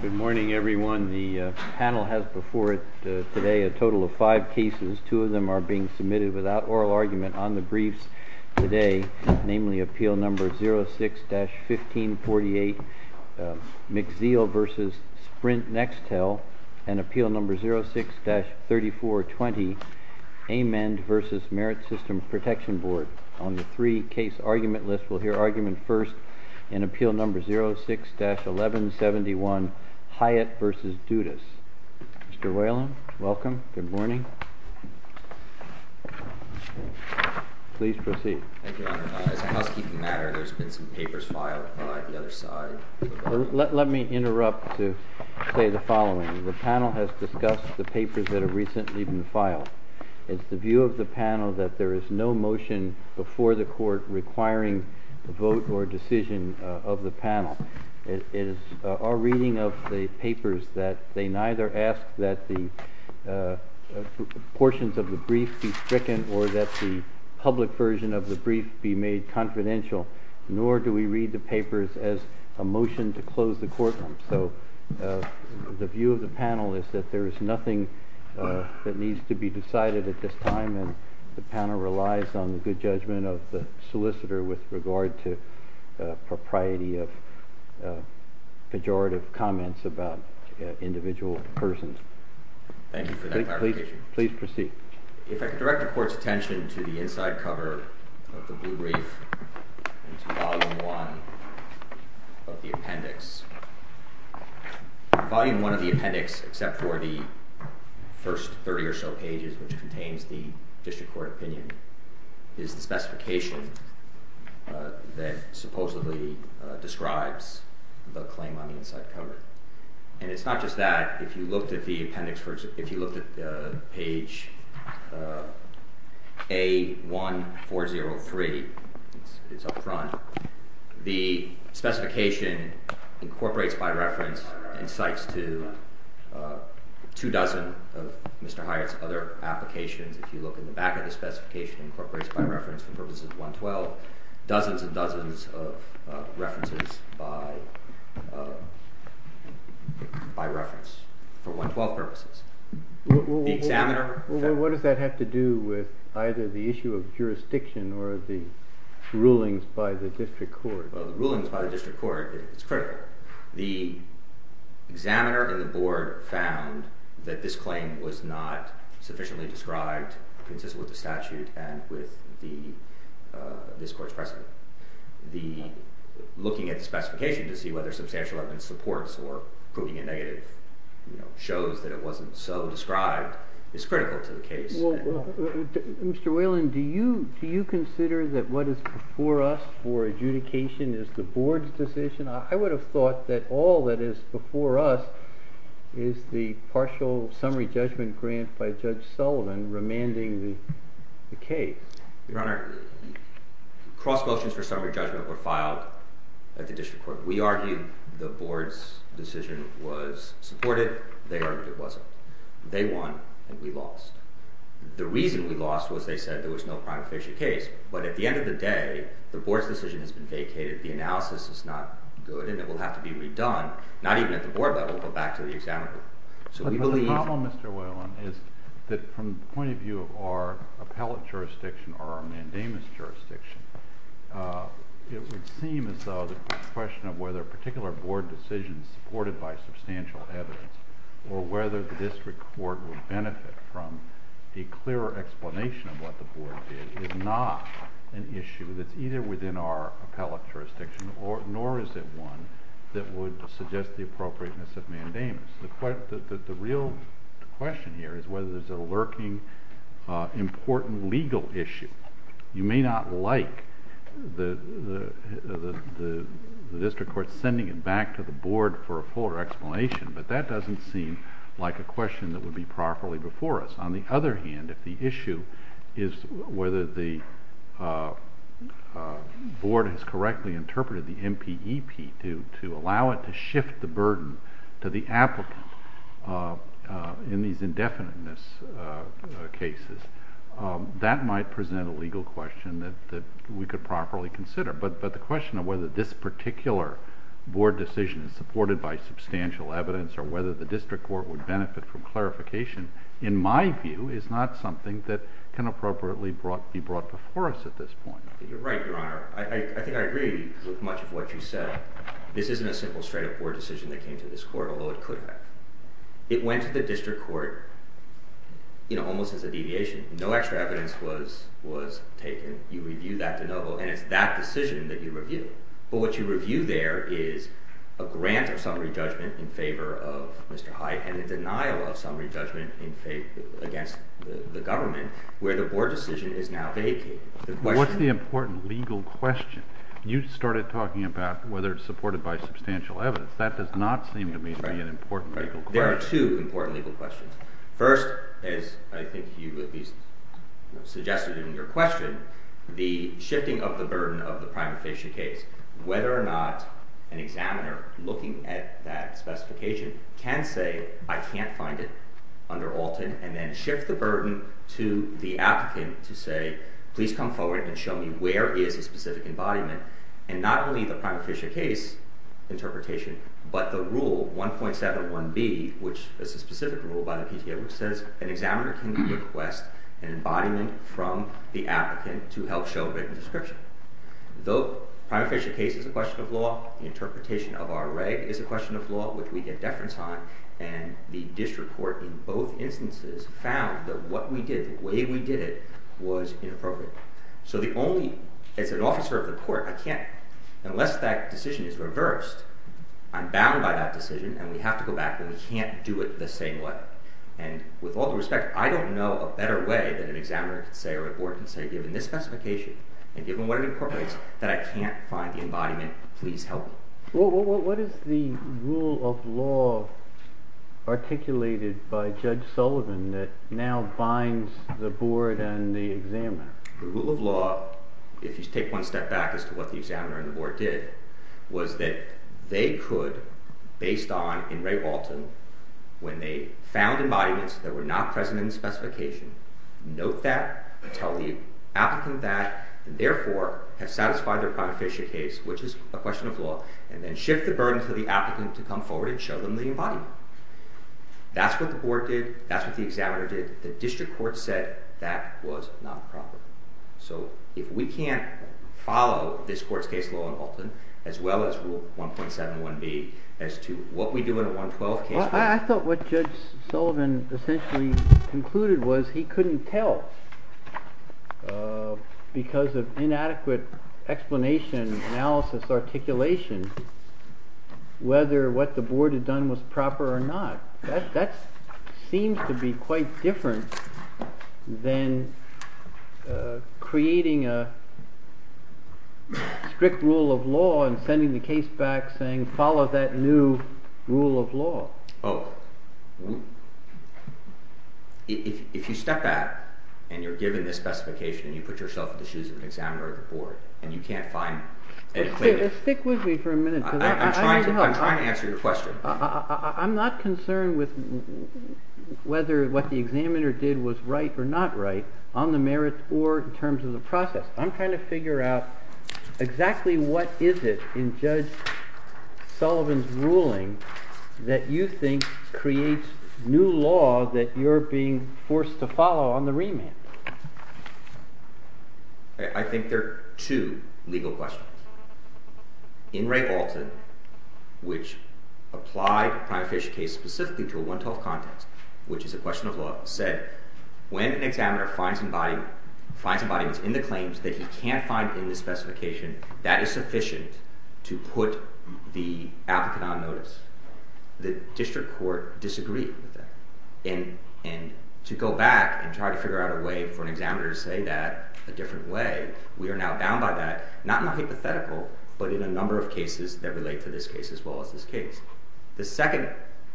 Good morning, everyone. The panel has before it today a total of five cases. Two of them are being submitted without oral argument on the briefs today, namely, Appeal No. 06-1548, McZeel v. Sprint-Nextel, and Appeal No. 06-3420, Amend v. Merit System Protection Board. On the three-case argument list, we'll hear argument first in Appeal No. 06-1171, Hyatt v. Dudas. Mr. Whalen, welcome. Good morning. Please proceed. Thank you, Your Honor. As a housekeeping matter, there's been some papers filed by the other side. Let me interrupt to say the following. The panel has discussed the papers that have recently been filed. It's the view of the panel that there is no motion before the Court requiring the vote or decision of the panel. It is our reading of the papers that they neither ask that the portions of the brief be stricken or that the public version of the brief be made confidential, nor do we read the papers as a motion to close the courtroom. So the view of the panel is that there is nothing that needs to be decided at this time, and the panel relies on the good judgment of the solicitor with regard to propriety of pejorative comments about individual persons. Thank you for that clarification. Please proceed. If I could direct the Court's attention to the inside cover of the blue brief and to Volume I of the appendix. Volume I of the appendix, except for the first 30 or so pages which contains the district court opinion, is the specification that supposedly describes the claim on the inside cover. And it's not just that. If you looked at the appendix, if you looked at page A1403, it's up front, the specification incorporates by reference and cites to two dozen of Mr. Hyatt's other applications. If you look in the back of the specification, incorporates by reference for purposes of 112, dozens and dozens of references by reference for 112 purposes. What does that have to do with either the issue of jurisdiction or the rulings by the district court? The rulings by the district court is critical. The examiner in the board found that this claim was not sufficiently described consistent with the statute and with this Court's precedent. Looking at the specification to see whether substantial evidence supports or proving it negative shows that it wasn't so described is critical to the case. Mr. Whalen, do you consider that what is before us for adjudication is the board's decision? I would have thought that all that is before us is the partial summary judgment grant by Judge Sullivan remanding the case. Your Honor, cross motions for summary judgment were filed at the district court. We argued the board's decision was supported. They argued it wasn't. They won and we lost. The reason we lost was they said there was no crime official case, but at the end of the day, the board's decision has been vacated. The analysis is not good and it will have to be redone, not even at the board level, but back to the examiner. The problem, Mr. Whalen, is that from the point of view of our appellate jurisdiction or our mandamus jurisdiction, it would seem as though the question of whether a particular board decision supported by substantial evidence or whether the district court would benefit from a clearer explanation of what the board did is not an issue that's either within our appellate jurisdiction nor is it one that would suggest the appropriateness of mandamus. The real question here is whether there's a lurking important legal issue. You may not like the district court sending it back to the board for a fuller explanation, but that doesn't seem like a question that would be properly before us. On the other hand, if the issue is whether the board has correctly interpreted the MPEP to allow it to shift the burden to the applicant in these indefiniteness cases, that might present a legal question that we could properly consider. But the question of whether this particular board decision is supported by substantial evidence or whether the district court would benefit from clarification, in my view, is not something that can appropriately be brought before us at this point. You're right, Your Honor. I think I agree with much of what you said. This isn't a simple straight-up board decision that came to this court, although it could have. It went to the district court almost as a deviation. No extra evidence was taken. You review that de novo, and it's that decision that you review. But what you review there is a grant of summary judgment in favor of Mr. Hyatt and a denial of summary judgment against the government where the board decision is now vacated. What's the important legal question? You started talking about whether it's supported by substantial evidence. That does not seem to me to be an important legal question. There are two important legal questions. First, as I think you at least suggested in your question, the shifting of the burden of the prima facie case, whether or not an examiner looking at that specification can say, I can't find it under Alton, and then shift the burden to the applicant to say, please come forward and show me where is the specific embodiment, and not only the prima facie case interpretation, but the rule, 1.71b, which is a specific rule by the PTA, which says an examiner can request an embodiment from the applicant to help show written description. The prima facie case is a question of law. The interpretation of our reg is a question of law, which we get deference on, and the district court in both instances found that what we did, the way we did it, was inappropriate. So the only—as an officer of the court, I can't—unless that decision is reversed, I'm bound by that decision, and we have to go back, and we can't do it the same way. And with all due respect, I don't know a better way than an examiner can say, or a board can say, given this specification and given what it incorporates, that I can't find the embodiment, please help me. What is the rule of law articulated by Judge Sullivan that now binds the board and the examiner? The rule of law, if you take one step back as to what the examiner and the board did, was that they could, based on, in Ray Walton, when they found embodiments that were not present in the specification, note that, tell the applicant that, and therefore have satisfied their prima facie case, which is a question of law, and then shift the burden to the applicant to come forward and show them the embodiment. That's what the board did. That's what the examiner did. The district court said that was not proper. So if we can't follow this court's case law in Walton, as well as Rule 1.71b, as to what we do in a 112 case— I thought what Judge Sullivan essentially concluded was he couldn't tell, because of inadequate explanation, analysis, articulation, whether what the board had done was proper or not. That seems to be quite different than creating a strict rule of law and sending the case back saying, follow that new rule of law. Oh. If you step back and you're given this specification, and you put yourself in the shoes of an examiner or the board, and you can't find an equivalent— Stick with me for a minute. I'm trying to answer your question. I'm not concerned with whether what the examiner did was right or not right on the merits or in terms of the process. I'm trying to figure out exactly what is it in Judge Sullivan's ruling that you think creates new law that you're being forced to follow on the remand. I think there are two legal questions. In Ray Walton, which applied a prime official case specifically to a 112 context, which is a question of law, said, when an examiner finds embodiments in the claims that he can't find in the specification, that is sufficient to put the applicant on notice. The district court disagreed with that. And to go back and try to figure out a way for an examiner to say that a different way, we are now bound by that, not in a hypothetical, but in a number of cases that relate to this case as well as this case. The second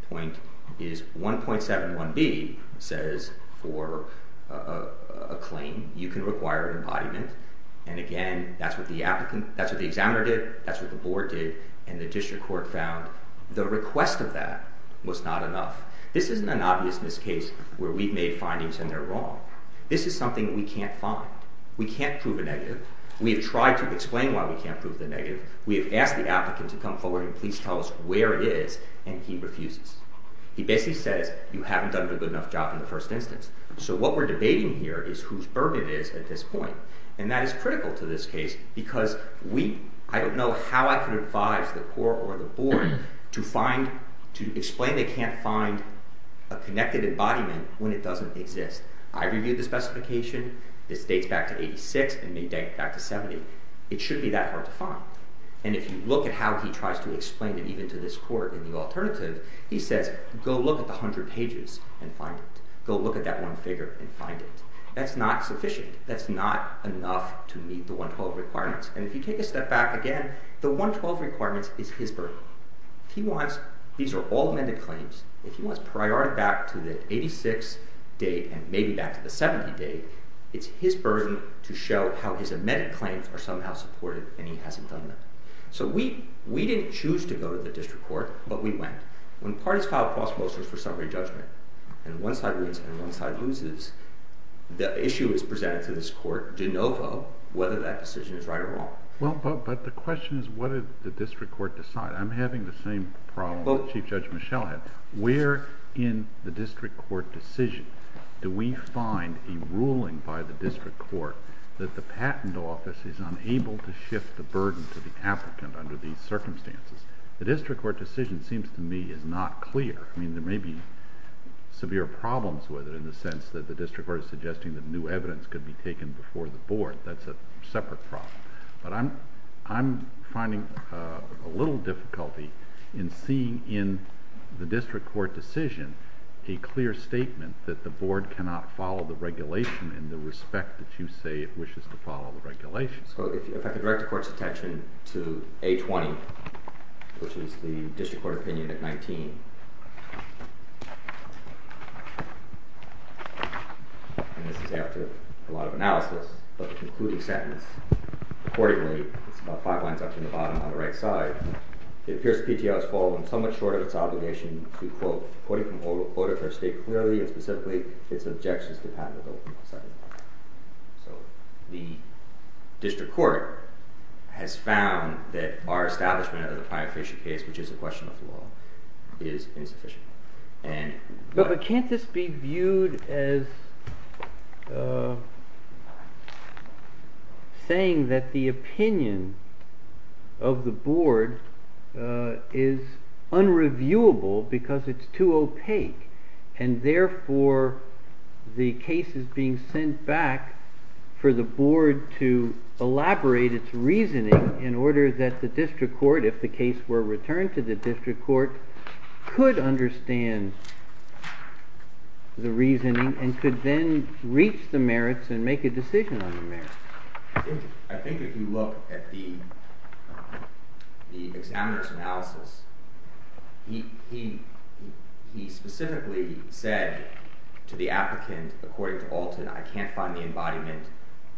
point is 1.71b says for a claim you can require an embodiment. And again, that's what the examiner did, that's what the board did, and the district court found the request of that was not enough. This isn't an obvious miscase where we've made findings and they're wrong. This is something we can't find. We can't prove a negative. We have tried to explain why we can't prove the negative. We have asked the applicant to come forward and please tell us where it is, and he refuses. He basically says you haven't done a good enough job in the first instance. So what we're debating here is whose burden it is at this point, and that is critical to this case because I don't know how I can advise the court or the board to explain they can't find a connected embodiment when it doesn't exist. I reviewed the specification. This dates back to 1986 and may date back to 1970. It should be that hard to find. And if you look at how he tries to explain it even to this court in the alternative, he says go look at the 100 pages and find it. Go look at that one figure and find it. That's not sufficient. That's not enough to meet the 112 requirements. And if you take a step back again, the 112 requirements is his burden. If he wants these are all amended claims. If he wants priority back to the 86 date and maybe back to the 70 date, it's his burden to show how his amended claims are somehow supported, and he hasn't done that. So we didn't choose to go to the district court, but we went. When parties file prosposals for summary judgment and one side wins and one side loses, the issue is presented to this court de novo whether that decision is right or wrong. But the question is what did the district court decide? I'm having the same problem that Chief Judge Michel had. Where in the district court decision do we find a ruling by the district court that the patent office is unable to shift the burden to the applicant under these circumstances? The district court decision seems to me is not clear. There may be severe problems with it in the sense that the district court is suggesting that new evidence could be taken before the board. That's a separate problem. But I'm finding a little difficulty in seeing in the district court decision a clear statement that the board cannot follow the regulation in the respect that you say it wishes to follow the regulation. If I could direct the court's attention to A20, which is the district court opinion at 19, and this is after a lot of analysis, but the concluding sentence. Accordingly, it's about five lines up from the bottom on the right side, it appears the PTO has fallen somewhat short of its obligation to quote according to the order of state clearly and specifically its objections to patentable consent. So the district court has found that our establishment of the client facial case, which is a question of the law, is insufficient. Can't this be viewed as saying that the opinion of the board is unreviewable because it's too opaque and therefore the case is being sent back for the board to elaborate its reasoning in order that the district court, if the case were returned to the district court, could understand the reasoning and could then reach the merits and make a decision on the merits? I think if you look at the examiner's analysis, he specifically said to the applicant, according to Alton, I can't find the embodiment.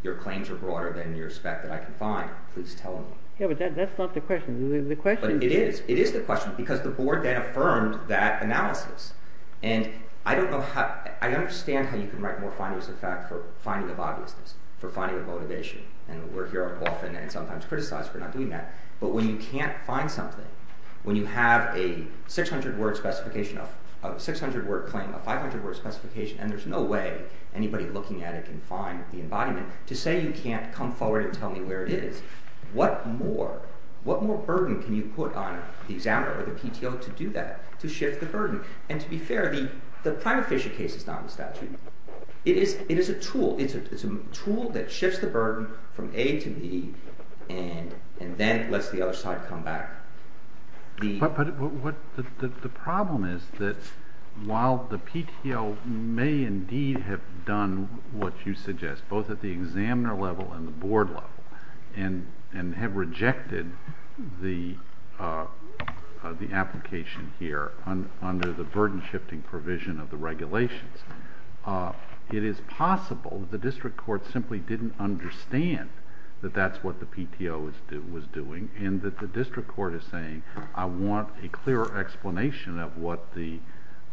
Your claims are broader than you expect that I can find. Please tell him. Yeah, but that's not the question. But it is. It is the question because the board then affirmed that analysis. And I understand how you can write more findings of fact for finding of obviousness, for finding of motivation. And we're here often and sometimes criticized for not doing that. But when you can't find something, when you have a 600-word claim, a 500-word specification, and there's no way anybody looking at it can find the embodiment, to say you can't come forward and tell me where it is, what more burden can you put on the examiner or the PTO to do that, to shift the burden? And to be fair, the Primer-Fisher case is not in the statute. It is a tool. It's a tool that shifts the burden from A to B and then lets the other side come back. But the problem is that while the PTO may indeed have done what you suggest, both at the examiner level and the board level, and have rejected the application here under the burden-shifting provision of the regulations, it is possible the district court simply didn't understand that that's what the PTO was doing and that the district court is saying, I want a clear explanation of what the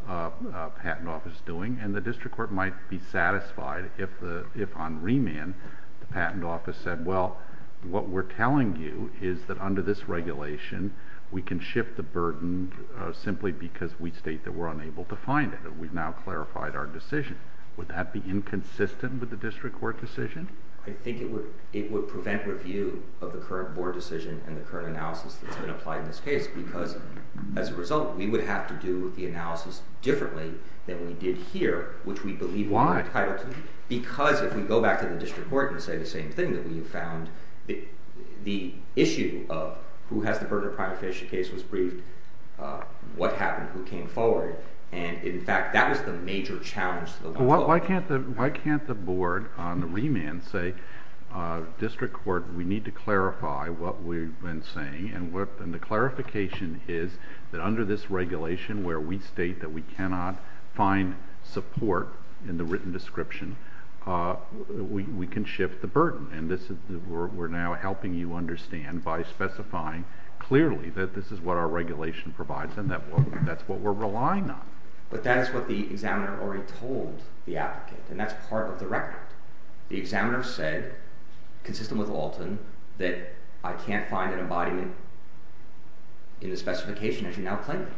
patent office is doing. And the district court might be satisfied if on remand the patent office said, well, what we're telling you is that under this regulation, we can shift the burden simply because we state that we're unable to find it. We've now clarified our decision. Would that be inconsistent with the district court decision? I think it would prevent review of the current board decision and the current analysis that's been applied in this case because as a result, we would have to do the analysis differently than we did here, which we believe we're entitled to. Why? Because if we go back to the district court and say the same thing that we have found, the issue of who has the burden of prime official case was briefed, what happened, who came forward. And in fact, that was the major challenge to the law. Why can't the board on the remand say, district court, we need to clarify what we've been saying, and the clarification is that under this regulation where we state that we cannot find support in the written description, we can shift the burden. And we're now helping you understand by specifying clearly that this is what our regulation provides and that's what we're relying on. But that is what the examiner already told the applicant, and that's part of the record. The examiner said, consistent with Alton, that I can't find an embodiment in the specification as you now claim it.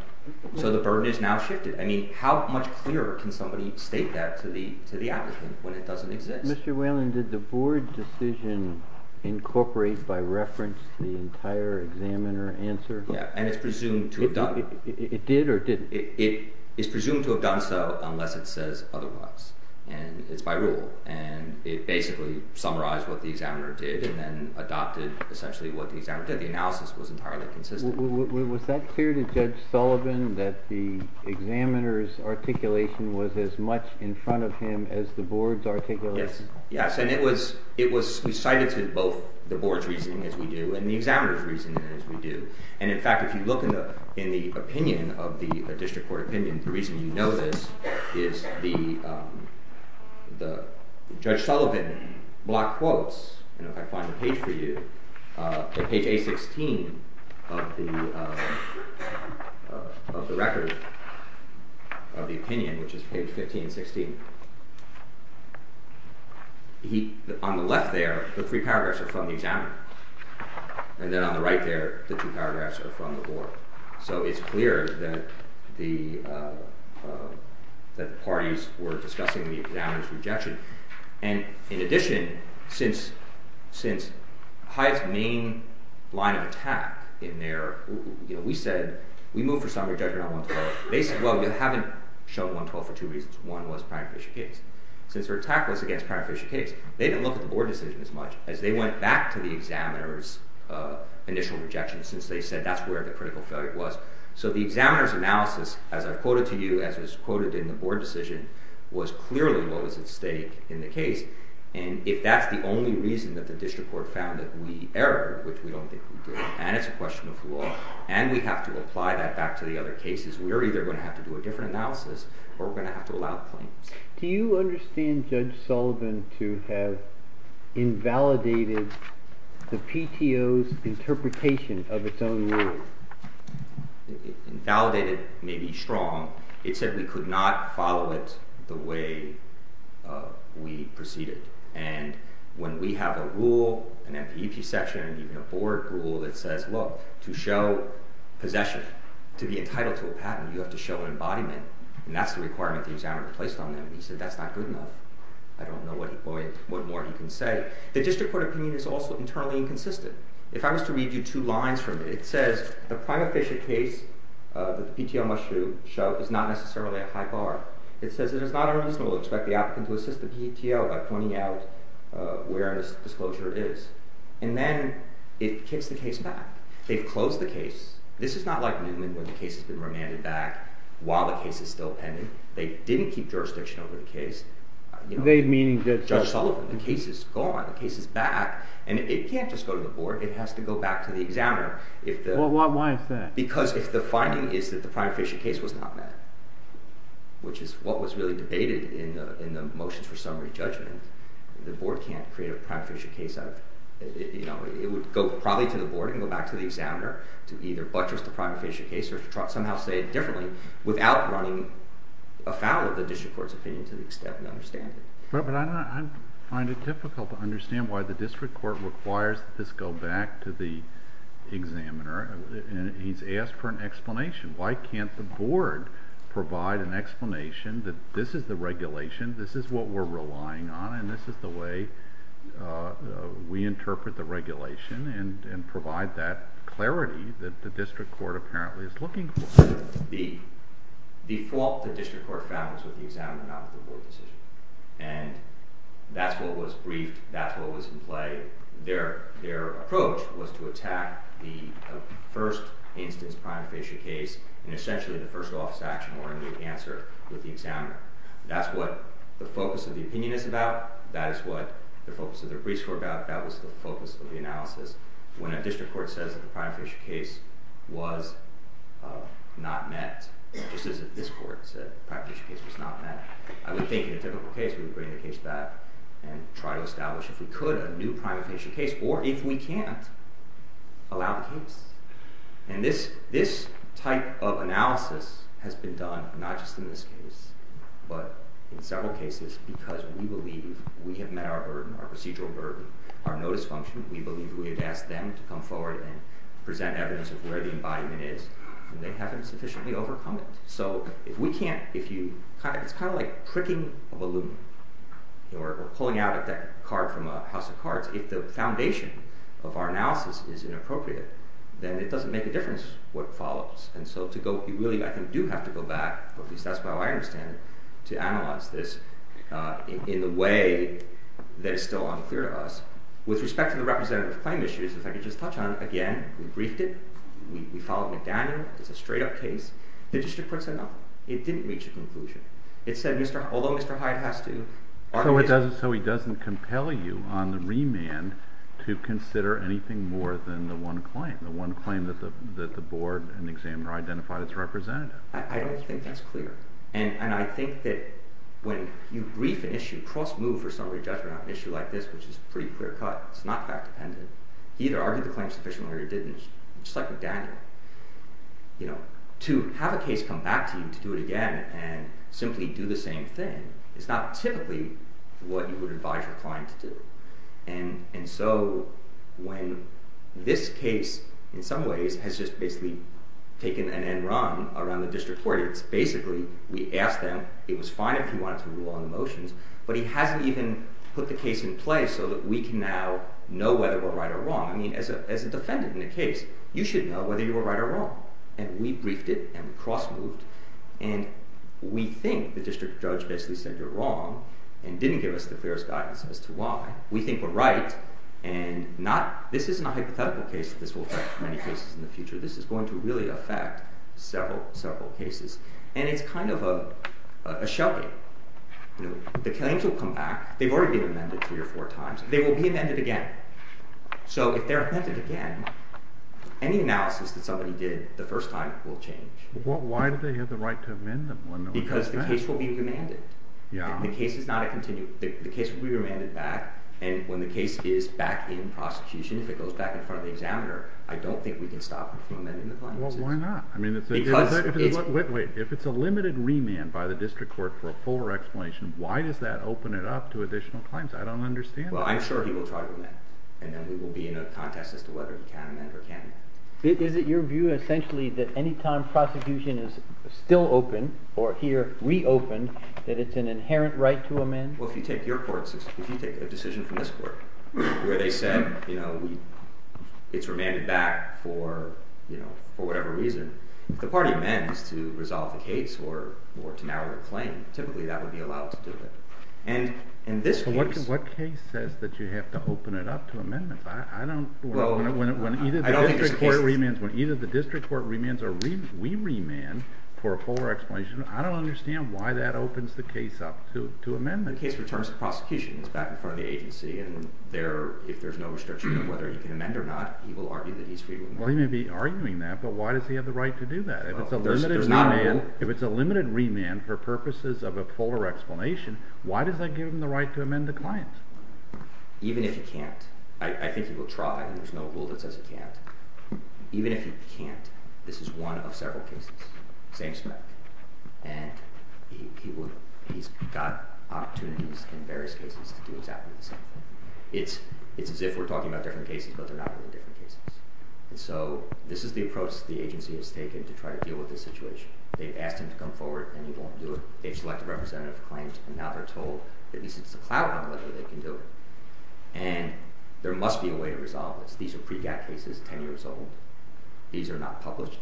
So the burden is now shifted. I mean, how much clearer can somebody state that to the applicant when it doesn't exist? Mr. Whalen, did the board decision incorporate by reference the entire examiner answer? Yeah, and it's presumed to have done that. It did or it didn't? It is presumed to have done so unless it says otherwise, and it's by rule. And it basically summarized what the examiner did and then adopted essentially what the examiner did. The analysis was entirely consistent. Was that clear to Judge Sullivan that the examiner's articulation was as much in front of him as the board's articulation? Yes, and it was recited to both the board's reasoning, as we do, and the examiner's reasoning, as we do. And, in fact, if you look in the opinion of the district court opinion, the reason you know this is the Judge Sullivan block quotes, and if I find the page for you, page A16 of the record of the opinion, which is page 15 and 16, on the left there, the three paragraphs are from the examiner, and then on the right there, the two paragraphs are from the board. So it's clear that the parties were discussing the examiner's rejection. And, in addition, since Hyatt's main line of attack in there, we said we moved for summary judgment on 112. They said, well, we haven't shown 112 for two reasons. One was Pratt and Fisher case. Since their attack was against Pratt and Fisher case, they didn't look at the board decision as much as they went back to the examiner's initial rejection since they said that's where the critical failure was. So the examiner's analysis, as I've quoted to you, as was quoted in the board decision, was clearly what was at stake in the case. And if that's the only reason that the district court found that we erred, which we don't think we did, and it's a question of law, and we have to apply that back to the other cases, we're either going to have to do a different analysis or we're going to have to allow claims. Do you understand Judge Sullivan to have invalidated the PTO's interpretation of its own rule? Invalidated may be strong. It said we could not follow it the way we proceeded. And when we have a rule, an MPEP section, and even a board rule that says, look, to show possession, to be entitled to a patent, you have to show an embodiment, and that's the requirement the examiner placed on them. He said that's not good enough. I don't know what more he can say. The district court opinion is also internally inconsistent. If I was to read you two lines from it, it says, the prime officiate case that the PTO must show is not necessarily a high bar. It says it is not unreasonable to expect the applicant to assist the PTO by pointing out where this disclosure is. And then it kicks the case back. They've closed the case. This is not like Newman when the case has been remanded back while the case is still pending. They didn't keep jurisdiction over the case. They, meaning Judge Sullivan? The case is gone. The case is back. And it can't just go to the board. It has to go back to the examiner. Why is that? Because if the finding is that the prime officiate case was not met, which is what was really debated in the motions for summary judgment, the board can't create a prime officiate case out of it. It would go probably to the board and go back to the examiner to either buttress the prime officiate case or somehow say it differently without running afoul of the district court's opinion to the extent we understand it. But I find it difficult to understand why the district court requires this go back to the examiner. He's asked for an explanation. Why can't the board provide an explanation that this is the regulation, this is what we're relying on, and this is the way we interpret the regulation and provide that clarity that the district court apparently is looking for? The default the district court found was with the examiner, not the board decision. And that's what was briefed. That's what was in play. Their approach was to attack the first instance prime officiate case in essentially the first office action or in the answer with the examiner. That's what the focus of the opinion is about. That is what the focus of the briefs were about. That was the focus of the analysis. When a district court says that the prime officiate case was not met, just as if this court said the prime officiate case was not met, I would think in a typical case we would bring the case back and try to establish, if we could, a new prime officiate case or, if we can't, allow the case. And this type of analysis has been done not just in this case but in several cases because we believe we have met our burden, our procedural burden, our notice function. We believe we have asked them to come forward and present evidence of where the embodiment is, and they haven't sufficiently overcome it. So it's kind of like pricking a balloon or pulling out a card from a house of cards. If the foundation of our analysis is inappropriate, then it doesn't make a difference what follows. And so you really, I think, do have to go back, or at least that's how I understand it, to analyze this in a way that is still unclear to us. With respect to the representative claim issues, if I could just touch on it again, we briefed it. We followed McDaniel. It's a straight-up case. The district court said no. It didn't reach a conclusion. It said, although Mr. Hyde has to... So he doesn't compel you on the remand to consider anything more than the one claim, the one claim that the board and the examiner identified as representative. I don't think that's clear. And I think that when you brief an issue, cross-move for summary judgment on an issue like this, which is a pretty clear cut, it's not fact-dependent, he either argued the claim sufficiently or he didn't. Just like with Daniel. To have a case come back to you to do it again and simply do the same thing is not typically what you would advise your client to do. And so when this case, in some ways, has just basically taken an end run around the district court, it's basically we asked them, it was fine if he wanted to rule on the motions, but he hasn't even put the case in place so that we can now know whether we're right or wrong. I mean, as a defendant in a case, you should know whether you were right or wrong. And we briefed it, and we cross-moved, and we think the district judge basically said you're wrong and didn't give us the fairest guidance as to why. We think we're right, and this is not a hypothetical case that this will affect many cases in the future. This is going to really affect several, several cases. And it's kind of a shelving. The claims will come back. They've already been amended three or four times. They will be amended again. So if they're amended again, any analysis that somebody did the first time will change. Why do they have the right to amend them? Because the case will be remanded. The case will be remanded back, and when the case is back in prosecution, if it goes back in front of the examiner, I don't think we can stop from amending the claims. Well, why not? Wait, if it's a limited remand by the district court for a fuller explanation, why does that open it up to additional claims? I don't understand that. Well, I'm sure he will try to amend, and then we will be in a contest as to whether he can amend or can't amend. Is it your view essentially that any time prosecution is still open, or here reopened, that it's an inherent right to amend? Well, if you take a decision from this court where they said it's remanded back for whatever reason, if the party amends to resolve the case or to narrow the claim, typically that would be allowed to do it. So what case says that you have to open it up to amendments? When either the district court remands or we remand for a fuller explanation, I don't understand why that opens the case up to amendments. The case returns to prosecution. It's back in front of the agency, and if there's no restriction on whether you can amend or not, he will argue that he's free to amend. Well, he may be arguing that, but why does he have the right to do that? If it's a limited remand for purposes of a fuller explanation, why does that give him the right to amend the client? Even if he can't, I think he will try. There's no rule that says he can't. Even if he can't, this is one of several cases, same spec, and he's got opportunities in various cases to do exactly the same thing. It's as if we're talking about different cases, but they're not really different cases. This is the approach the agency has taken to try to deal with this situation. They've asked him to come forward, and he won't do it. They've selected representative claims, and now they're told that at least it's a clout on whether they can do it, and there must be a way to resolve this. These are pre-GATT cases, 10 years old. These are not published.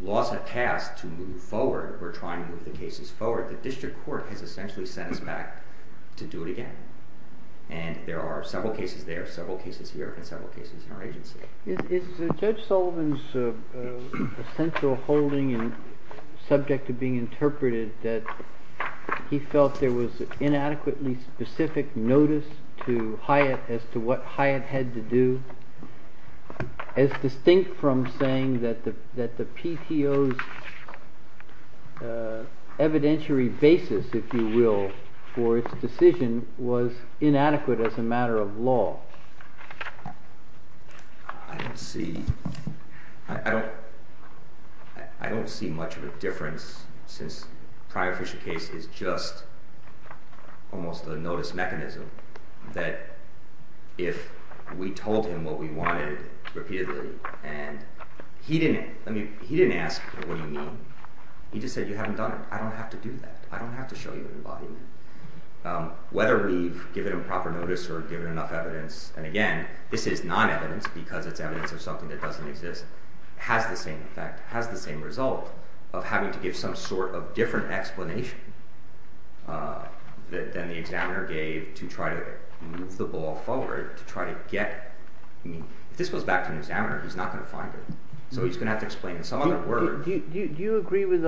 Laws have passed to move forward. We're trying to move the cases forward. The district court has essentially sent us back to do it again, and there are several cases there, several cases here, and several cases in our agency. Is Judge Sullivan's essential holding subject to being interpreted that he felt there was inadequately specific notice to Hyatt as to what Hyatt had to do, as distinct from saying that the PTO's evidentiary basis, if you will, for its decision was inadequate as a matter of law? I don't see much of a difference, since the prior Fisher case is just almost a notice mechanism that if we told him what we wanted repeatedly, and he didn't ask, what do you mean? He just said, you haven't done it. I don't have to do that. I don't have to show you an embodiment. Whether we've given him proper notice or given enough evidence, and again, this is non-evidence, because it's evidence of something that doesn't exist, has the same effect, has the same result of having to give some sort of different explanation than the examiner gave to try to move the ball forward, to try to get, I mean, if this goes back to an examiner, he's not going to find it. So he's going to have to explain in some other word. Do you agree with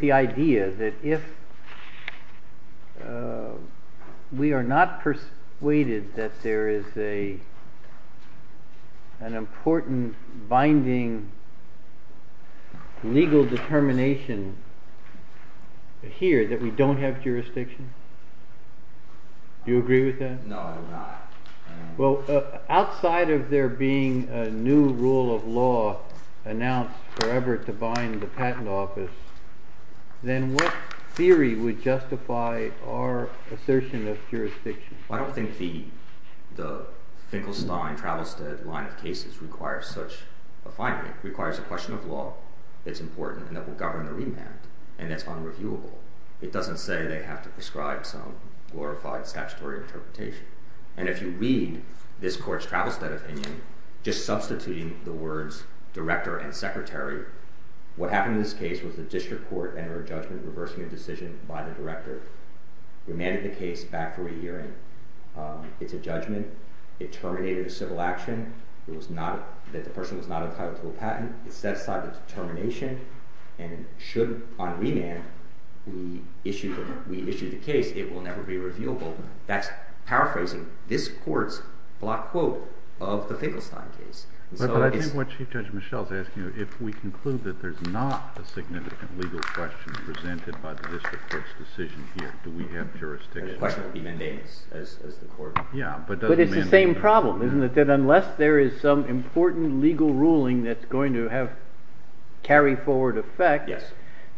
the idea that if we are not persuaded that there is an important binding legal determination here that we don't have jurisdiction? Do you agree with that? No, I do not. Well, outside of there being a new rule of law announced forever to bind the patent office, then what theory would justify our assertion of jurisdiction? I don't think the Finkelstein-Travelstead line of cases requires such a finding. It requires a question of law that's important and that will govern the remand, and that's unreviewable. It doesn't say they have to prescribe some glorified statutory interpretation. And if you read this court's Travelstead opinion, just substituting the words director and secretary, what happened in this case was the district court entered a judgment reversing a decision by the director, remanded the case back for a hearing. It's a judgment. It terminated a civil action that the person was not entitled to a patent. It set aside the determination, and should, on remand, we issue the case, it will never be reviewable. That's paraphrasing this court's block quote of the Finkelstein case. But I think what Chief Judge Michel is asking is if we conclude that there's not a significant legal question presented by the district court's decision here, do we have jurisdiction? The question would be mandamus as the court. Yeah, but doesn't mandate. But it's the same problem, isn't it? That unless there is some important legal ruling that's going to have carry-forward effect,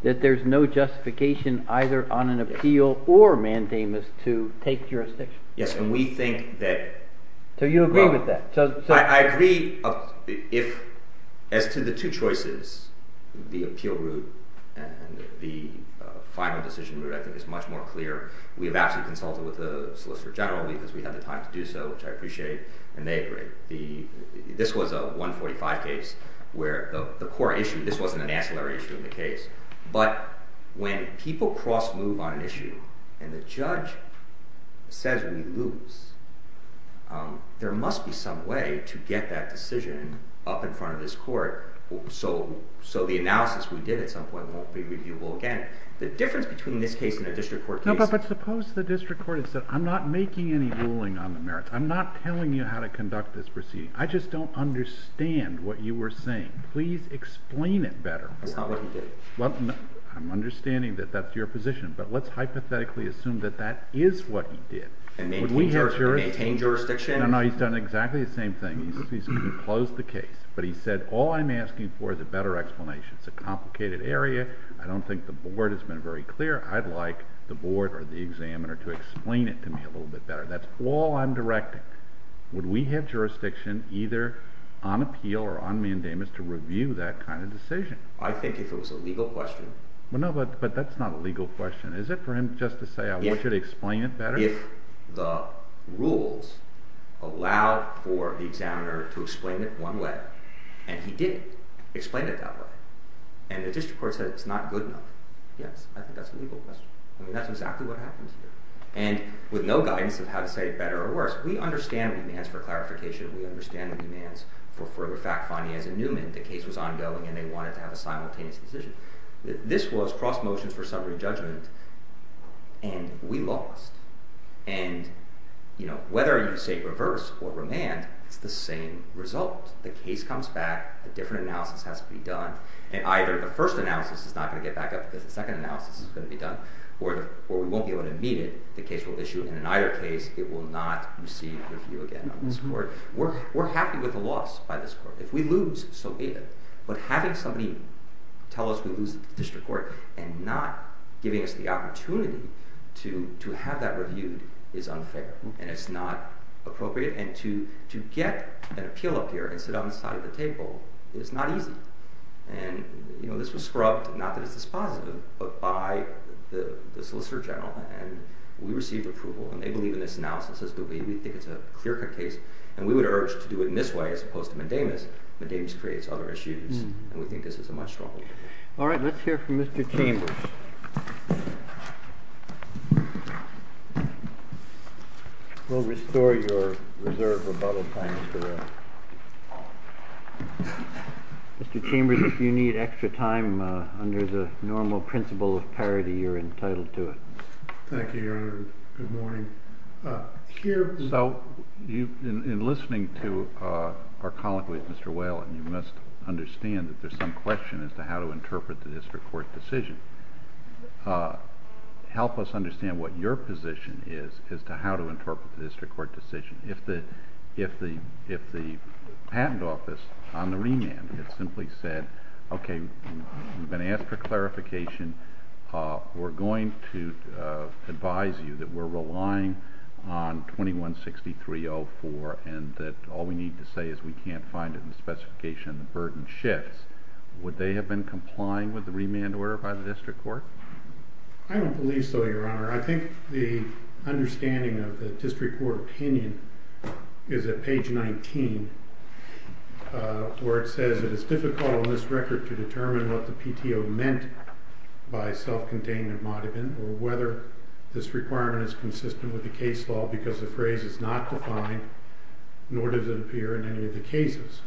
that there's no justification either on an appeal or mandamus to take jurisdiction. Yes, and we think that... So you agree with that? I agree if, as to the two choices, the appeal route and the final decision route, I think it's much more clear. We have actually consulted with the solicitor general because we had the time to do so, which I appreciate, and they agree. This was a 145 case where the core issue, this wasn't an ancillary issue in the case, but when people cross-move on an issue and the judge says we lose, there must be some way to get that decision up in front of this court so the analysis we did at some point won't be reviewable again. The difference between this case and a district court case... No, but suppose the district court had said, I'm not making any ruling on the merits. I'm not telling you how to conduct this proceeding. I just don't understand what you were saying. Please explain it better. That's not what he did. I'm understanding that that's your position, but let's hypothetically assume that that is what he did. Maintain jurisdiction? No, no, he's done exactly the same thing. He's closed the case, but he said, all I'm asking for is a better explanation. It's a complicated area. I don't think the board has been very clear. I'd like the board or the examiner to explain it to me a little bit better. That's all I'm directing. Would we have jurisdiction either on appeal or on mandamus to review that kind of decision? I think if it was a legal question... No, but that's not a legal question. Is it for him just to say, I want you to explain it better? If the rules allow for the examiner to explain it one way, and he did explain it that way, and the district court said it's not good enough, yes, I think that's a legal question. I mean, that's exactly what happens here. And with no guidance of how to say it better or worse, we understand demands for clarification. We understand the demands for further fact-finding. As in Newman, the case was ongoing, and they wanted to have a simultaneous decision. This was cross-motion for summary judgment, and we lost. And whether you say reverse or remand, it's the same result. The case comes back. A different analysis has to be done. And either the first analysis is not going to get back up because the second analysis is going to be done, or we won't be able to meet it. The case will issue, and in either case, it will not receive review again on this court. We're happy with the loss by this court. If we lose, so be it. But having somebody tell us we lose the district court and not giving us the opportunity to have that reviewed is unfair, and it's not appropriate. And to get an appeal up here and sit on the side of the table is not easy. And, you know, this was scrubbed, not that it's dispositive, but by the solicitor general, and we received approval, and they believe in this analysis. We think it's a clear-cut case, and we would urge to do it in this way as opposed to Mendemis. Mendemis creates other issues, and we think this is a much stronger case. All right, let's hear from Mr. Chambers. We'll restore your reserve rebuttal time for that. Mr. Chambers, if you need extra time under the normal principle of parity, you're entitled to it. Thank you, Your Honor. Good morning. So in listening to our colleague with Mr. Whalen, you must understand that there's some question as to how to interpret the district court decision. Help us understand what your position is as to how to interpret the district court decision. If the patent office on the remand had simply said, Okay, we've been asked for clarification. We're going to advise you that we're relying on 2163.04 and that all we need to say is we can't find it in the specification of the burden shifts, would they have been complying with the remand order by the district court? I don't believe so, Your Honor. I think the understanding of the district court opinion is at page 19 where it says it is difficult on this record to determine what the PTO meant by self-contained embodiment or whether this requirement is consistent with the case law because the phrase is not defined, nor does it appear in any of the cases.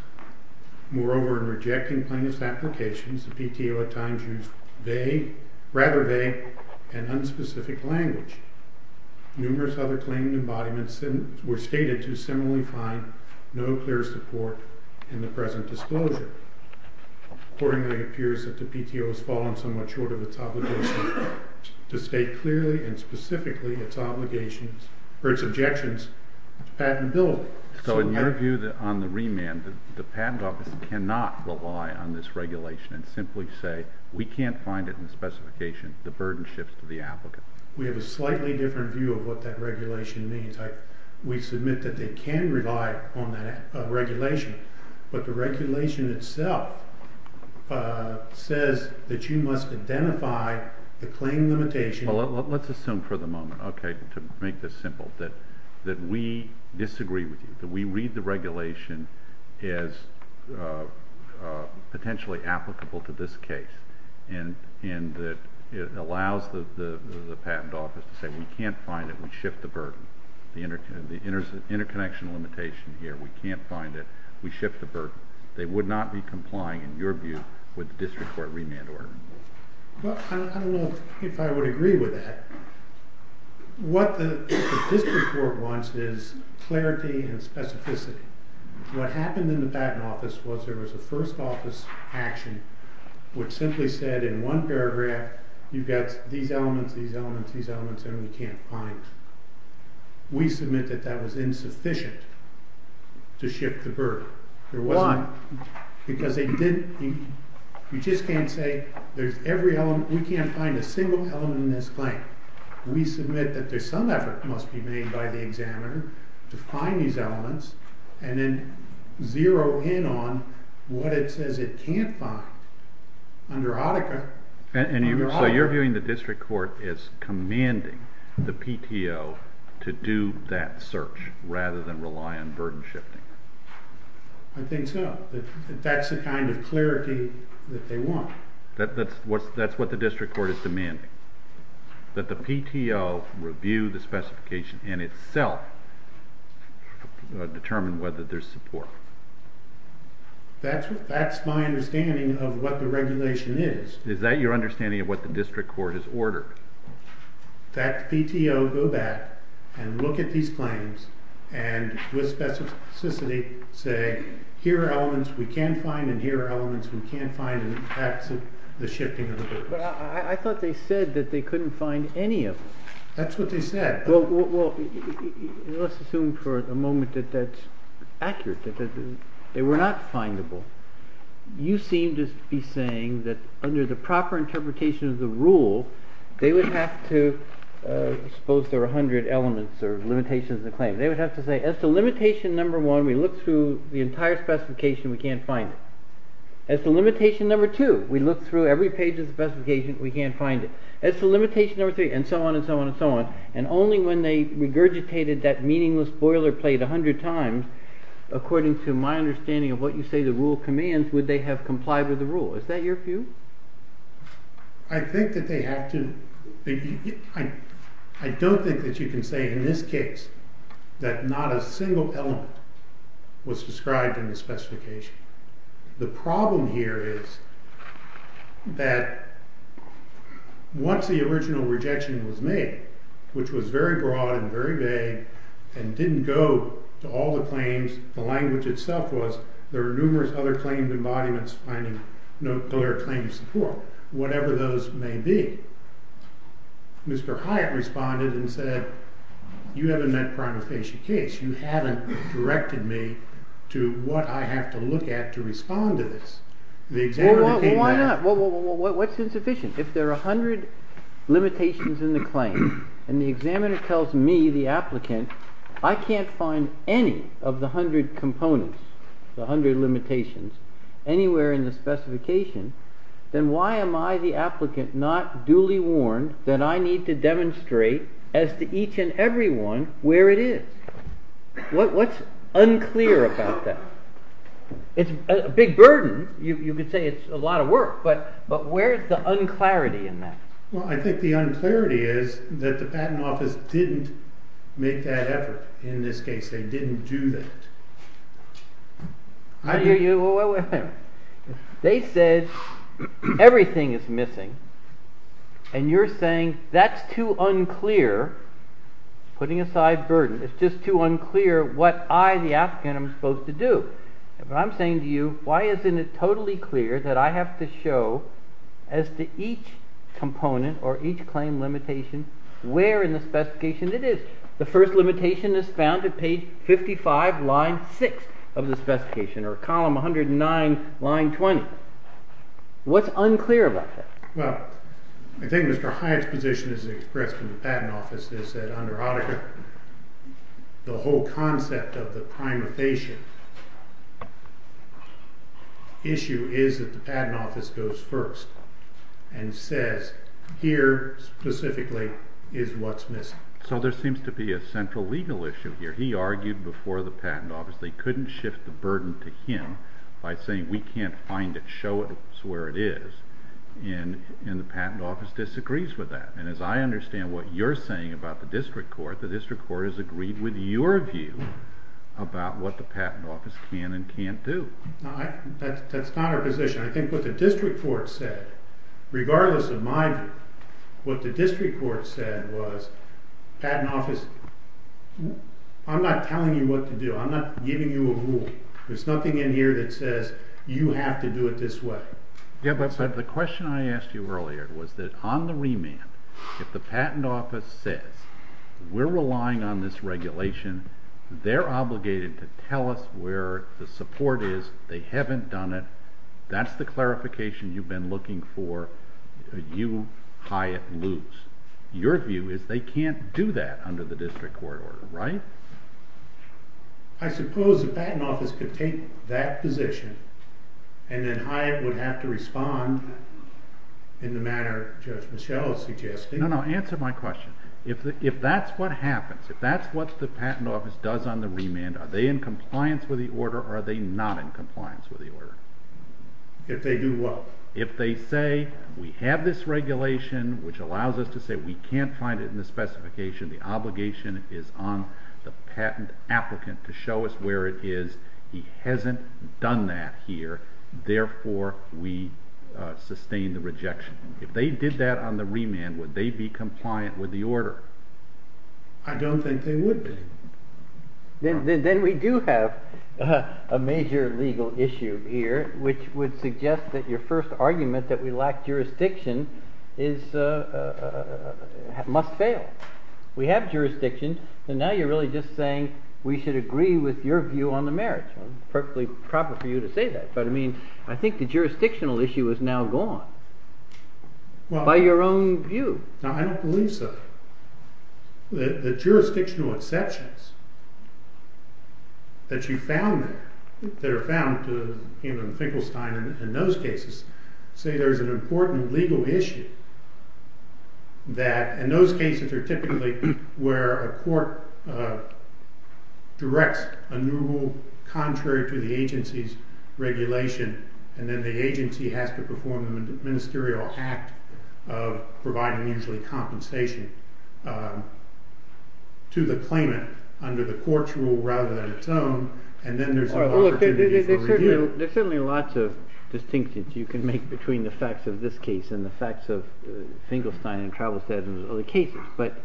Moreover, in rejecting plaintiff's applications, the PTO at times used they, rather they, and unspecific language. Numerous other claimed embodiments were stated to similarly find no clear support in the present disclosure. Accordingly, it appears that the PTO has fallen somewhat short of its obligation to state clearly and specifically its objections to patentability. So in your view on the remand, the patent office cannot rely on this regulation and simply say we can't find it in the specification of the burden shifts to the applicant. We have a slightly different view of what that regulation means. We submit that they can rely on that regulation, but the regulation itself says that you must identify the claim limitation. Well, let's assume for the moment, okay, to make this simple, that we disagree with you, that we read the regulation as potentially applicable to this case and that it allows the patent office to say we can't find it, we shift the burden. The interconnection limitation here, we can't find it, we shift the burden. They would not be complying, in your view, with the district court remand order. Well, I don't know if I would agree with that. What the district court wants is clarity and specificity. What happened in the patent office was there was a first office action which simply said in one paragraph you've got these elements, these elements, these elements, and we can't find them. We submit that that was insufficient to shift the burden. Why? Because they didn't... You just can't say there's every element... We can't find a single element in this claim. We submit that there's some effort must be made by the examiner to find these elements and then zero in on what it says it can't find. Under Hotika... So you're viewing the district court as commanding the PTO to do that search rather than rely on burden shifting. I think so. That's the kind of clarity that they want. That's what the district court is demanding, that the PTO review the specification in itself to determine whether there's support. That's my understanding of what the regulation is. Is that your understanding of what the district court has ordered? That the PTO go back and look at these claims and with specificity say here are elements we can find and here are elements we can't find and that's the shifting of the burden. I thought they said that they couldn't find any of them. That's what they said. Let's assume for a moment that that's accurate, that they were not findable. You seem to be saying that under the proper interpretation of the rule they would have to expose their 100 elements or limitations of the claim. They would have to say as to limitation number one we look through the entire specification we can't find it. As to limitation number two we look through every page of the specification we can't find it. As to limitation number three and so on and so on and so on and only when they regurgitated that meaningless boilerplate a hundred times according to my understanding of what you say the rule commands would they have complied with the rule. Is that your view? I think that they have to. I don't think that you can say in this case that not a single element was described in the specification. The problem here is that once the original rejection was made which was very broad and very vague and didn't go to all the claims the language itself was there are numerous other claimed embodiments finding no clear claim to support whatever those may be. Mr. Hyatt responded and said you haven't met prima facie case you haven't directed me to what I have to look at to respond to this. Why not? What's insufficient? If there are a hundred limitations in the claim and the examiner tells me, the applicant I can't find any of the hundred components the hundred limitations anywhere in the specification then why am I the applicant not duly warned that I need to demonstrate as to each and everyone where it is. What's unclear about that? It's a big burden you could say it's a lot of work but where is the un-clarity in that? I think the un-clarity is that the patent office didn't make that effort in this case they didn't do that. I hear you they said everything is missing and you're saying that's too unclear putting aside burden it's just too unclear what I the applicant am supposed to do but I'm saying to you why isn't it totally clear that I have to show as to each component or each claim limitation where in the specification it is. The first limitation is found at page 55 line 6 of the specification or column 109 line 20. What's unclear about that? Well, I think Mr. Hyatt's position is expressed in the patent office is that under Auditor the whole concept of the prima facie issue is that the patent office goes first and says here specifically is what's missing. So there seems to be a central legal issue here. He argued before the patent office they couldn't shift the burden to him by saying we can't find it show us where it is and the patent office disagrees with that and as I understand what you're saying about the district court the district court has agreed with your view about what the patent office can and can't do. That's not our position I think what the district court said regardless of my view what the district court said was patent office I'm not telling you what to do I'm not giving you a rule there's nothing in here that says you have to do it this way. The question I asked you earlier was that on the remand if the patent office says we're relying on this regulation they're obligated to tell us where the support is they haven't done it that's the clarification you've been looking for you, Hyatt, lose. Your view is they can't do that under the district court order, right? I suppose the patent office could take that position and then Hyatt would have to respond in the manner Judge Michello suggested No, no, answer my question if that's what happens if that's what the patent office does on the remand are they in compliance with the order or are they not in compliance with the order? If they do what? If they say we have this regulation which allows us to say we can't find it in the specification the obligation is on the patent applicant to show us where it is, he hasn't done that here, therefore we sustain the rejection. If they did that on the remand would they be compliant with the order? I don't think they would be. Then we do have a major legal issue here which would suggest that your first argument that we lack jurisdiction is must fail. We have jurisdiction and now you're really just saying we should agree with your view on the marriage. Perfectly proper for you to say that, but I mean I think the jurisdictional issue is now gone by your own view. I don't believe so. The jurisdictional exceptions that you found that are found in Finkelstein and those cases say there's an important legal issue that in those cases are typically where a court directs a new rule contrary to the agency's regulation and then the agency has to perform a ministerial act of providing compensation to the claimant under the court's rule rather than its own and then there's an opportunity for review. There's certainly lots of distinctions you can make between the facts of this case and the facts of Finkelstein and Travistad and other cases, but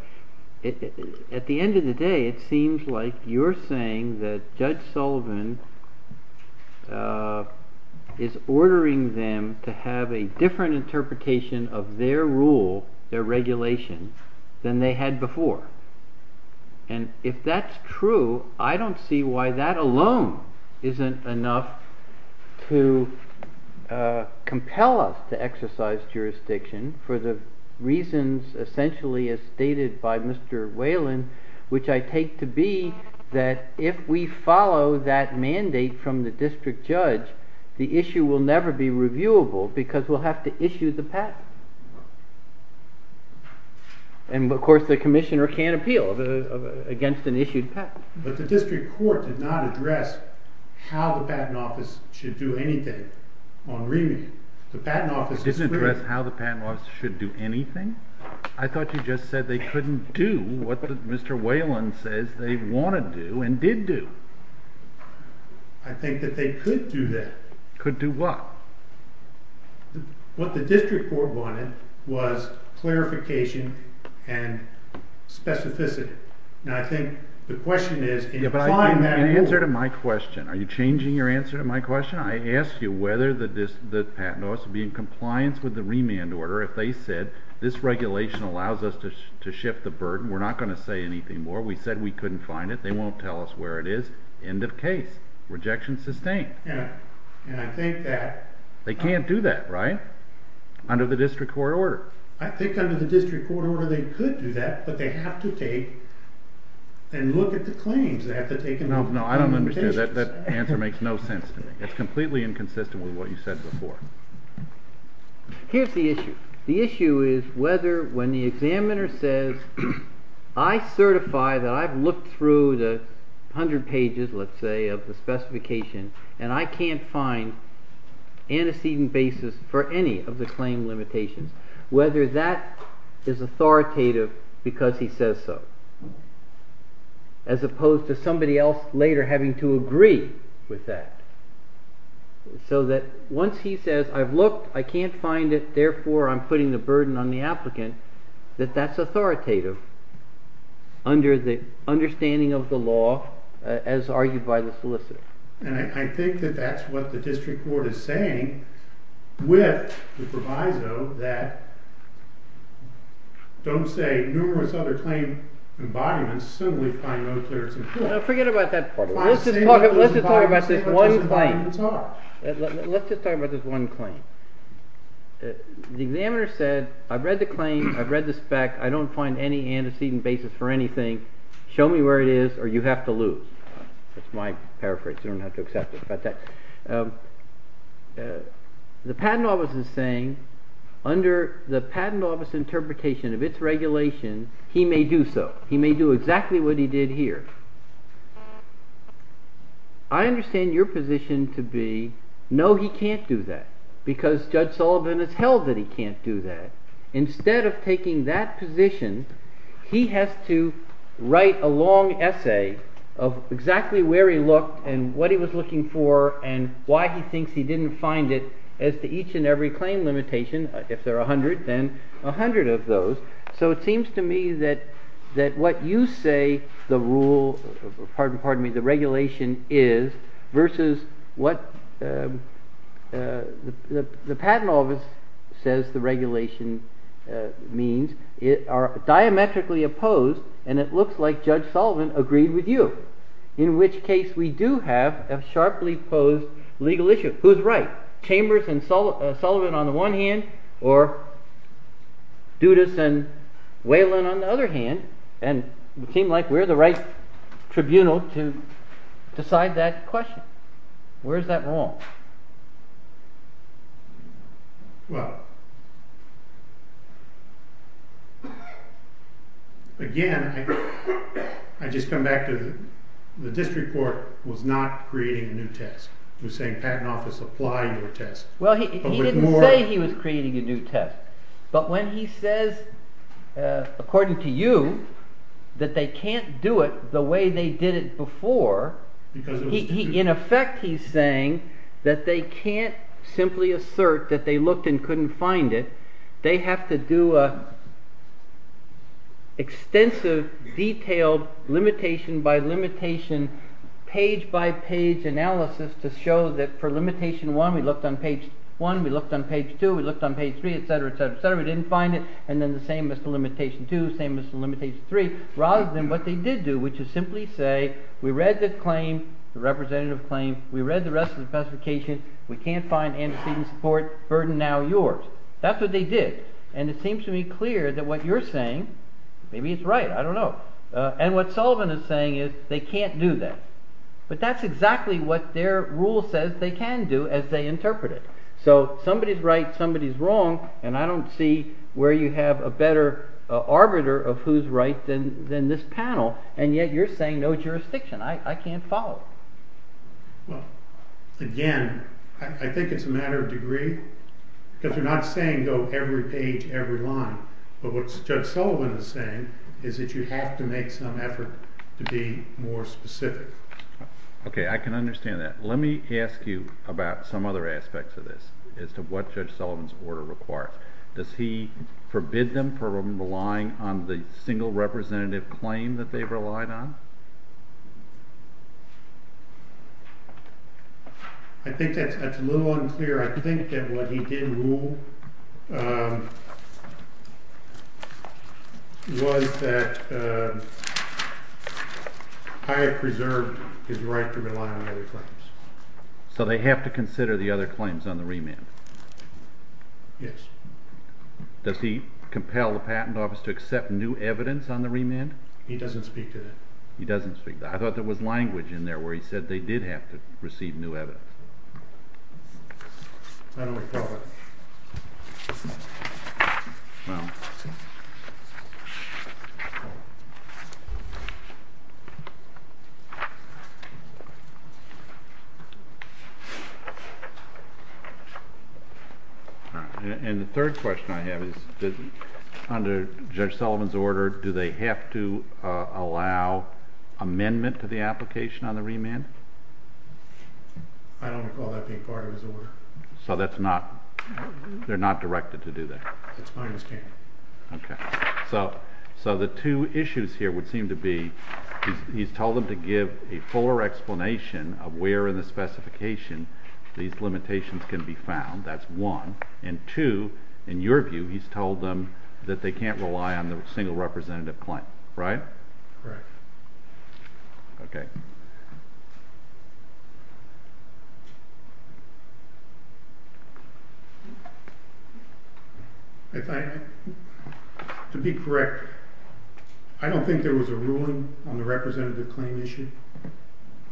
at the end of the day it seems like you're saying that Judge Sullivan is ordering them to have a different interpretation of their rule, their regulation than they had before and if that's true, I don't see why that alone isn't enough to compel us to exercise jurisdiction for the reasons essentially as stated by Mr. Whelan, which I take to be that if we follow that mandate from the district judge, the issue will never be reviewable because we'll have to issue the patent and of course the commissioner can't appeal against an issued patent. But the district court did not address how the patent office should do anything on remand. The patent office... It didn't address how the patent office should do anything? I thought you just said they couldn't do what Mr. Whelan says they want to do and did do. I think that they could do that. Could do what? What the district court wanted was clarification and specificity. And I think the question is... Are you changing your answer to my question? I asked you whether the patent office would be in compliance with the remand order if they said this regulation allows us to shift the burden. We're not going to say anything more. We said we couldn't find it. They won't tell us where it is. End of case. Rejection sustained. And I think that... They can't do that, right? Under the district court order. I think under the district court order they could do that but they have to take and look at the claims. No, I don't understand. That answer makes no sense to me. It's completely inconsistent with what you said before. Here's the issue. The issue is whether when the examiner says I certify that I've looked through the hundred pages, let's say, of the specification and I can't find antecedent basis for any of the claim limitations, whether that is authoritative because he says so. As opposed to somebody else later having to agree with that. So that once he says I've looked I can't find it, therefore I'm putting the burden on the applicant, that that's authoritative under the understanding of the law as argued by the solicitor. And I think that that's what the district court is saying with the proviso that don't say numerous other claim embodiments simply find no clearance in court. Forget about that part. Let's just talk about this one claim. Let's just talk about this one claim. The examiner said I've read the claim, I've read the spec, I don't find any antecedent basis for anything. Show me where it is or you have to lose. That's my paraphrase. You don't have to accept it. The patent office is saying under the patent office interpretation of its regulation he may do so. He may do exactly what he did here. I understand your position to be no he can't do that because Judge Sullivan has held that he can't do that. Instead of taking that position he has to write a long essay of exactly where he looked and what he was looking for and why he thinks he didn't find it as to each and every claim limitation. If there are a hundred then a hundred of those. So it seems to me that what you say the rule pardon me the regulation is versus what the patent office says the regulation means are diametrically opposed and it looks like Judge Sullivan agreed with you in which case we do have a sharply posed legal issue. Who's right? Chambers and Sullivan on the one hand or Dudas and Whelan on the other hand and it seems like we're the right tribunal to decide that question. Where's that wrong? Well again I just come back to the district court was not creating a new test. It was saying patent office apply your test. Well he didn't say he was creating a new test but when he says according to you that they can't do it the way they did it before in effect he's saying that they can't simply assert that they looked and couldn't find it. They have to do a extensive detailed limitation by limitation page by page analysis to show that for limitation one we looked on page one, we looked on page two, we looked on page three etc. We didn't find it and then the same as the limitation two, same as the limitation three rather than what they did do which is simply say we read the claim, the representative claim, we read the rest of the specification, we can't find antecedent support, burden now yours. That's what they did and it seems to me clear that what you're saying maybe it's right, I don't know and what Sullivan is saying is they can't do that. But that's exactly what their rule says they can do as they interpret it. So somebody's right, somebody's wrong and I don't see where you have a better arbiter of who's right than this panel and yet you're saying no jurisdiction, I can't follow. Again, I think it's a matter of degree because you're not saying go every page every line but what Judge Sullivan is saying is that you have to make some effort to be more specific. I can understand that. Let me ask you about some other aspects of this as to what Judge Sullivan's order requires. Does he forbid them from relying on the single representative claim that they've relied on? I think that's a little unclear. I think that what he did rule was that I have preserved his right to rely on other claims. So they have to consider the other claims on the remand? Yes. Does he compel the patent office to accept new evidence on the remand? He doesn't speak to that. He doesn't speak to that. I thought there was language in there where he said they did have to receive new evidence. I don't recall that. Well. And the third question I have is under Judge Sullivan's order, do they have to allow amendment to the application on the remand? I don't recall that being part of his order. So that's not they're not directed to do that? That's my understanding. So the two issues here would seem to be, he's told them to give a fuller explanation of where in the specification these limitations can be found. That's one. And two, in your view, he's told them that they can't rely on the single representative claim. Right? Correct. Okay. If I to be correct, I don't think there was a ruling on the representative claim issue.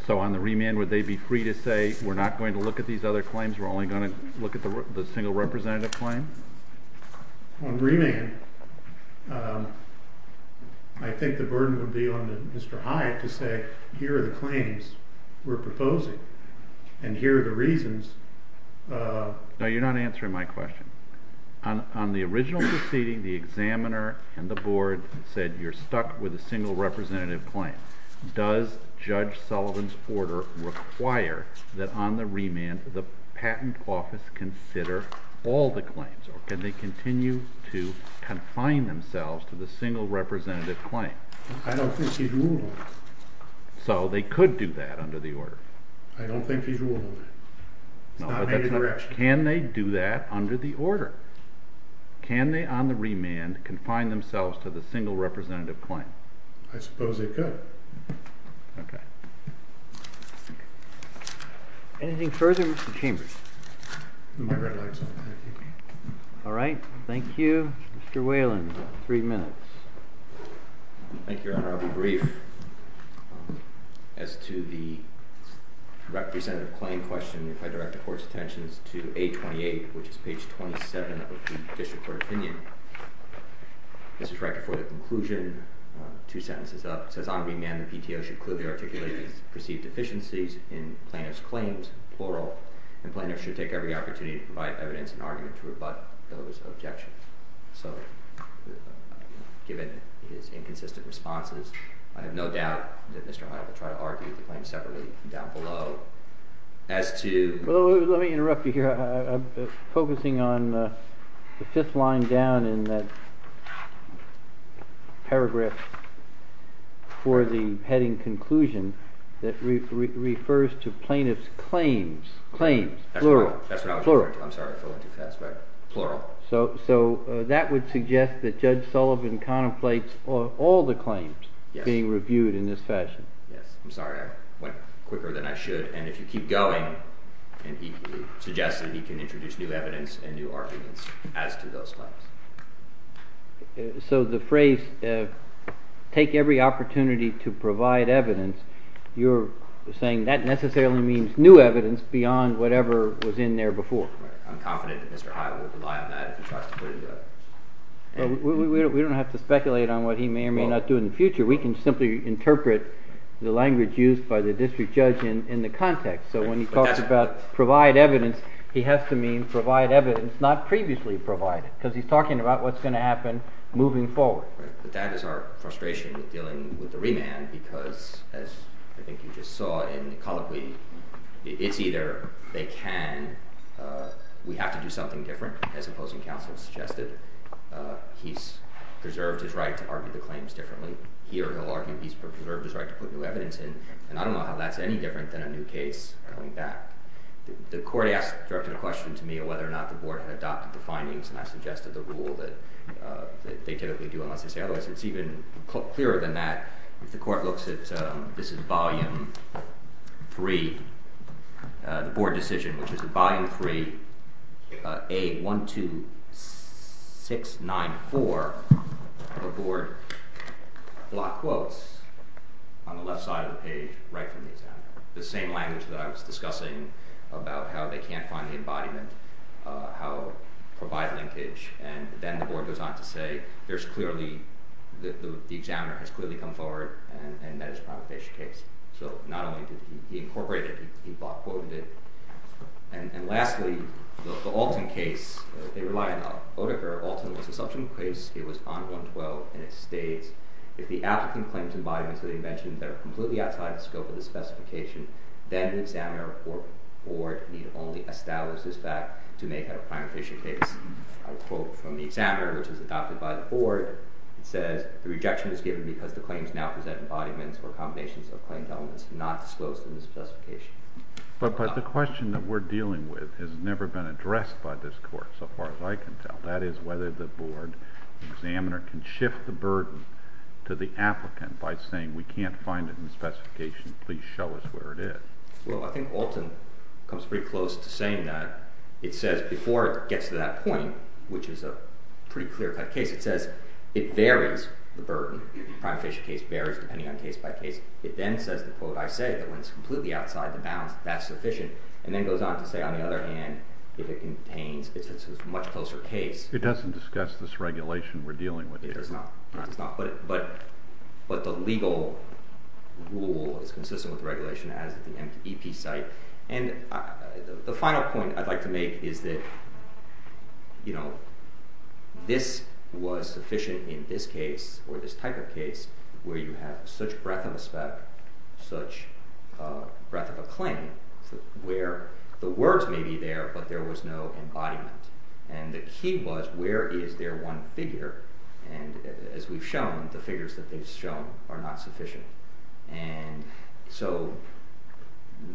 So on the remand, would they be free to say, we're not going to look at these other claims, we're only going to look at the single representative claim? On remand, I think the burden would be on Mr. Hyatt to say here are the claims we're proposing, and here are the reasons No, you're not answering my question. On the original proceeding, the examiner and the board said you're stuck with a single representative claim. Does Judge Sullivan's order require that on the remand, the patent office consider all the claims? Or can they continue to confine themselves to the single representative claim? I don't think he's ruled on that. So they could do that under the order? I don't think he's ruled on that. Can they do that under the order? Can they, on the remand, confine themselves to the single representative claim? I suppose they could. Okay. Anything further, Mr. Chambers? My red light's on. Alright, thank you. Mr. Whelan, three minutes. Thank you, Your Honor. I'll be brief. As to the representative claim question, if I direct the Court's attention to page 28, which is page 27 of the District Court opinion, this is right before the conclusion, two sentences up. It says on the remand, the PTO should clearly articulate these perceived deficiencies in plaintiff's claims, plural, and plaintiffs should take every opportunity to provide evidence and argument to rebut those objections. So given his no doubt that Mr. Hyde would try to argue the claim separately down below, as to... Let me interrupt you here. I'm focusing on the fifth line down in that paragraph for the heading conclusion that refers to plaintiff's claims. Claims, plural. I'm sorry, I'm going too fast. So that would suggest that Judge Sullivan contemplates all the claims being reviewed in this fashion. Yes. I'm sorry, I went quicker than I should, and if you keep going, it suggests that he can introduce new evidence and new arguments as to those claims. So the phrase take every opportunity to provide evidence, you're saying that necessarily means new evidence beyond whatever was in there before. I'm confident that Mr. Hyde would rely on that if he tries to put it... We don't have to speculate on what he may or may not do in the future. We can simply interpret the language used by the district judge in the context. So when he talks about provide evidence, he has to mean provide evidence not previously provided, because he's talking about what's going to happen moving forward. But that is our frustration with dealing with the remand, because as I think you just saw in the colloquy, it's either they can, we have to do something different, as opposing counsel suggested. He's preserved his right to argue the claims differently. Here he'll argue he's preserved his right to put new evidence in, and I don't know how that's any different than a new case going back. The court directed a question to me on whether or not the board had adopted the findings, and I suggested the rule that they typically do unless they say otherwise. It's even clearer than that. If the court looks at this is volume 3, the board decision, which is volume 3 A 12 694, the board block quotes on the left side of the page, right from the examiner. The same language that I was discussing about how they can't find the embodiment, how provide linkage, and then the board goes on to say there's clearly the examiner has clearly come forward and met his primary patient case. So not only did he incorporate it, he block quoted it. And lastly, the Alton case, they rely on Oedeker. Alton was a substantive case. It was on 112, and it states if the applicant claims embodiments that he mentioned that are completely outside the scope of the specification, then the examiner or board need only establish this fact to make a primary patient case. I quote from the examiner, which is adopted by the board. the claims now present embodiments or combinations of claimed elements not disclosed in the question that we're dealing with has never been addressed by this court so far as I can tell. That is whether the board examiner can shift the burden to the applicant by saying we can't find it in the specification, please show us where it is. Well, I think Alton comes pretty close to saying that. It says before it gets to that point, which is a pretty clear-cut case, it says it varies the burden. The primary patient case varies depending on case by case. It then says the quote I said, that when it's completely outside the bounds, that's sufficient. And then it goes on to say, on the other hand, if it contains, it's a much closer case. It doesn't discuss this regulation we're dealing with here. It does not. But the legal rule is consistent with the regulation as the MTP site. And the final point I'd like to make is that you know, this was sufficient in this case or this type of case where you have such breadth of a spec such breadth of a claim where the words may be there, but there was no embodiment. And the key was where is there one figure and as we've shown, the figures that they've shown are not sufficient. And so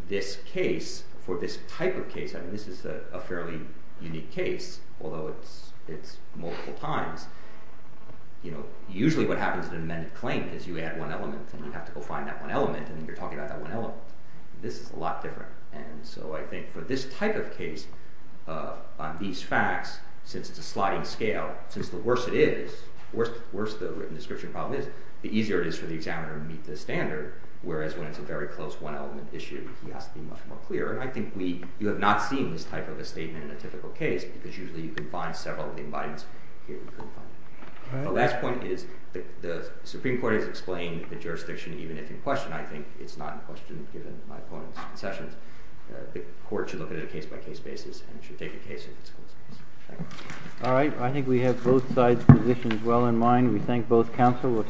this case for this type of case, I mean this is a fairly unique case although it's multiple times, you know usually what happens in an amended claim is you add one element and you have to go find that one element and you're talking about that one element. This is a lot different. And so I think for this type of case on these facts, since it's a sliding scale, since the worse it is the worse the written description problem is, the easier it is for the examiner to meet the standard. Whereas when it's a very close one element issue, he has to be much more clear. And I think we, you have not seen this type of a statement in a typical case because usually you can find several of the embodiments here. The last point is the Supreme Court has explained the jurisdiction even if in question I think it's not in question given my opponent's concessions. The court should look at it case by case basis and should take a case if it's conclusive. Alright, I think we have both sides' positions well in mind. We thank both counsel.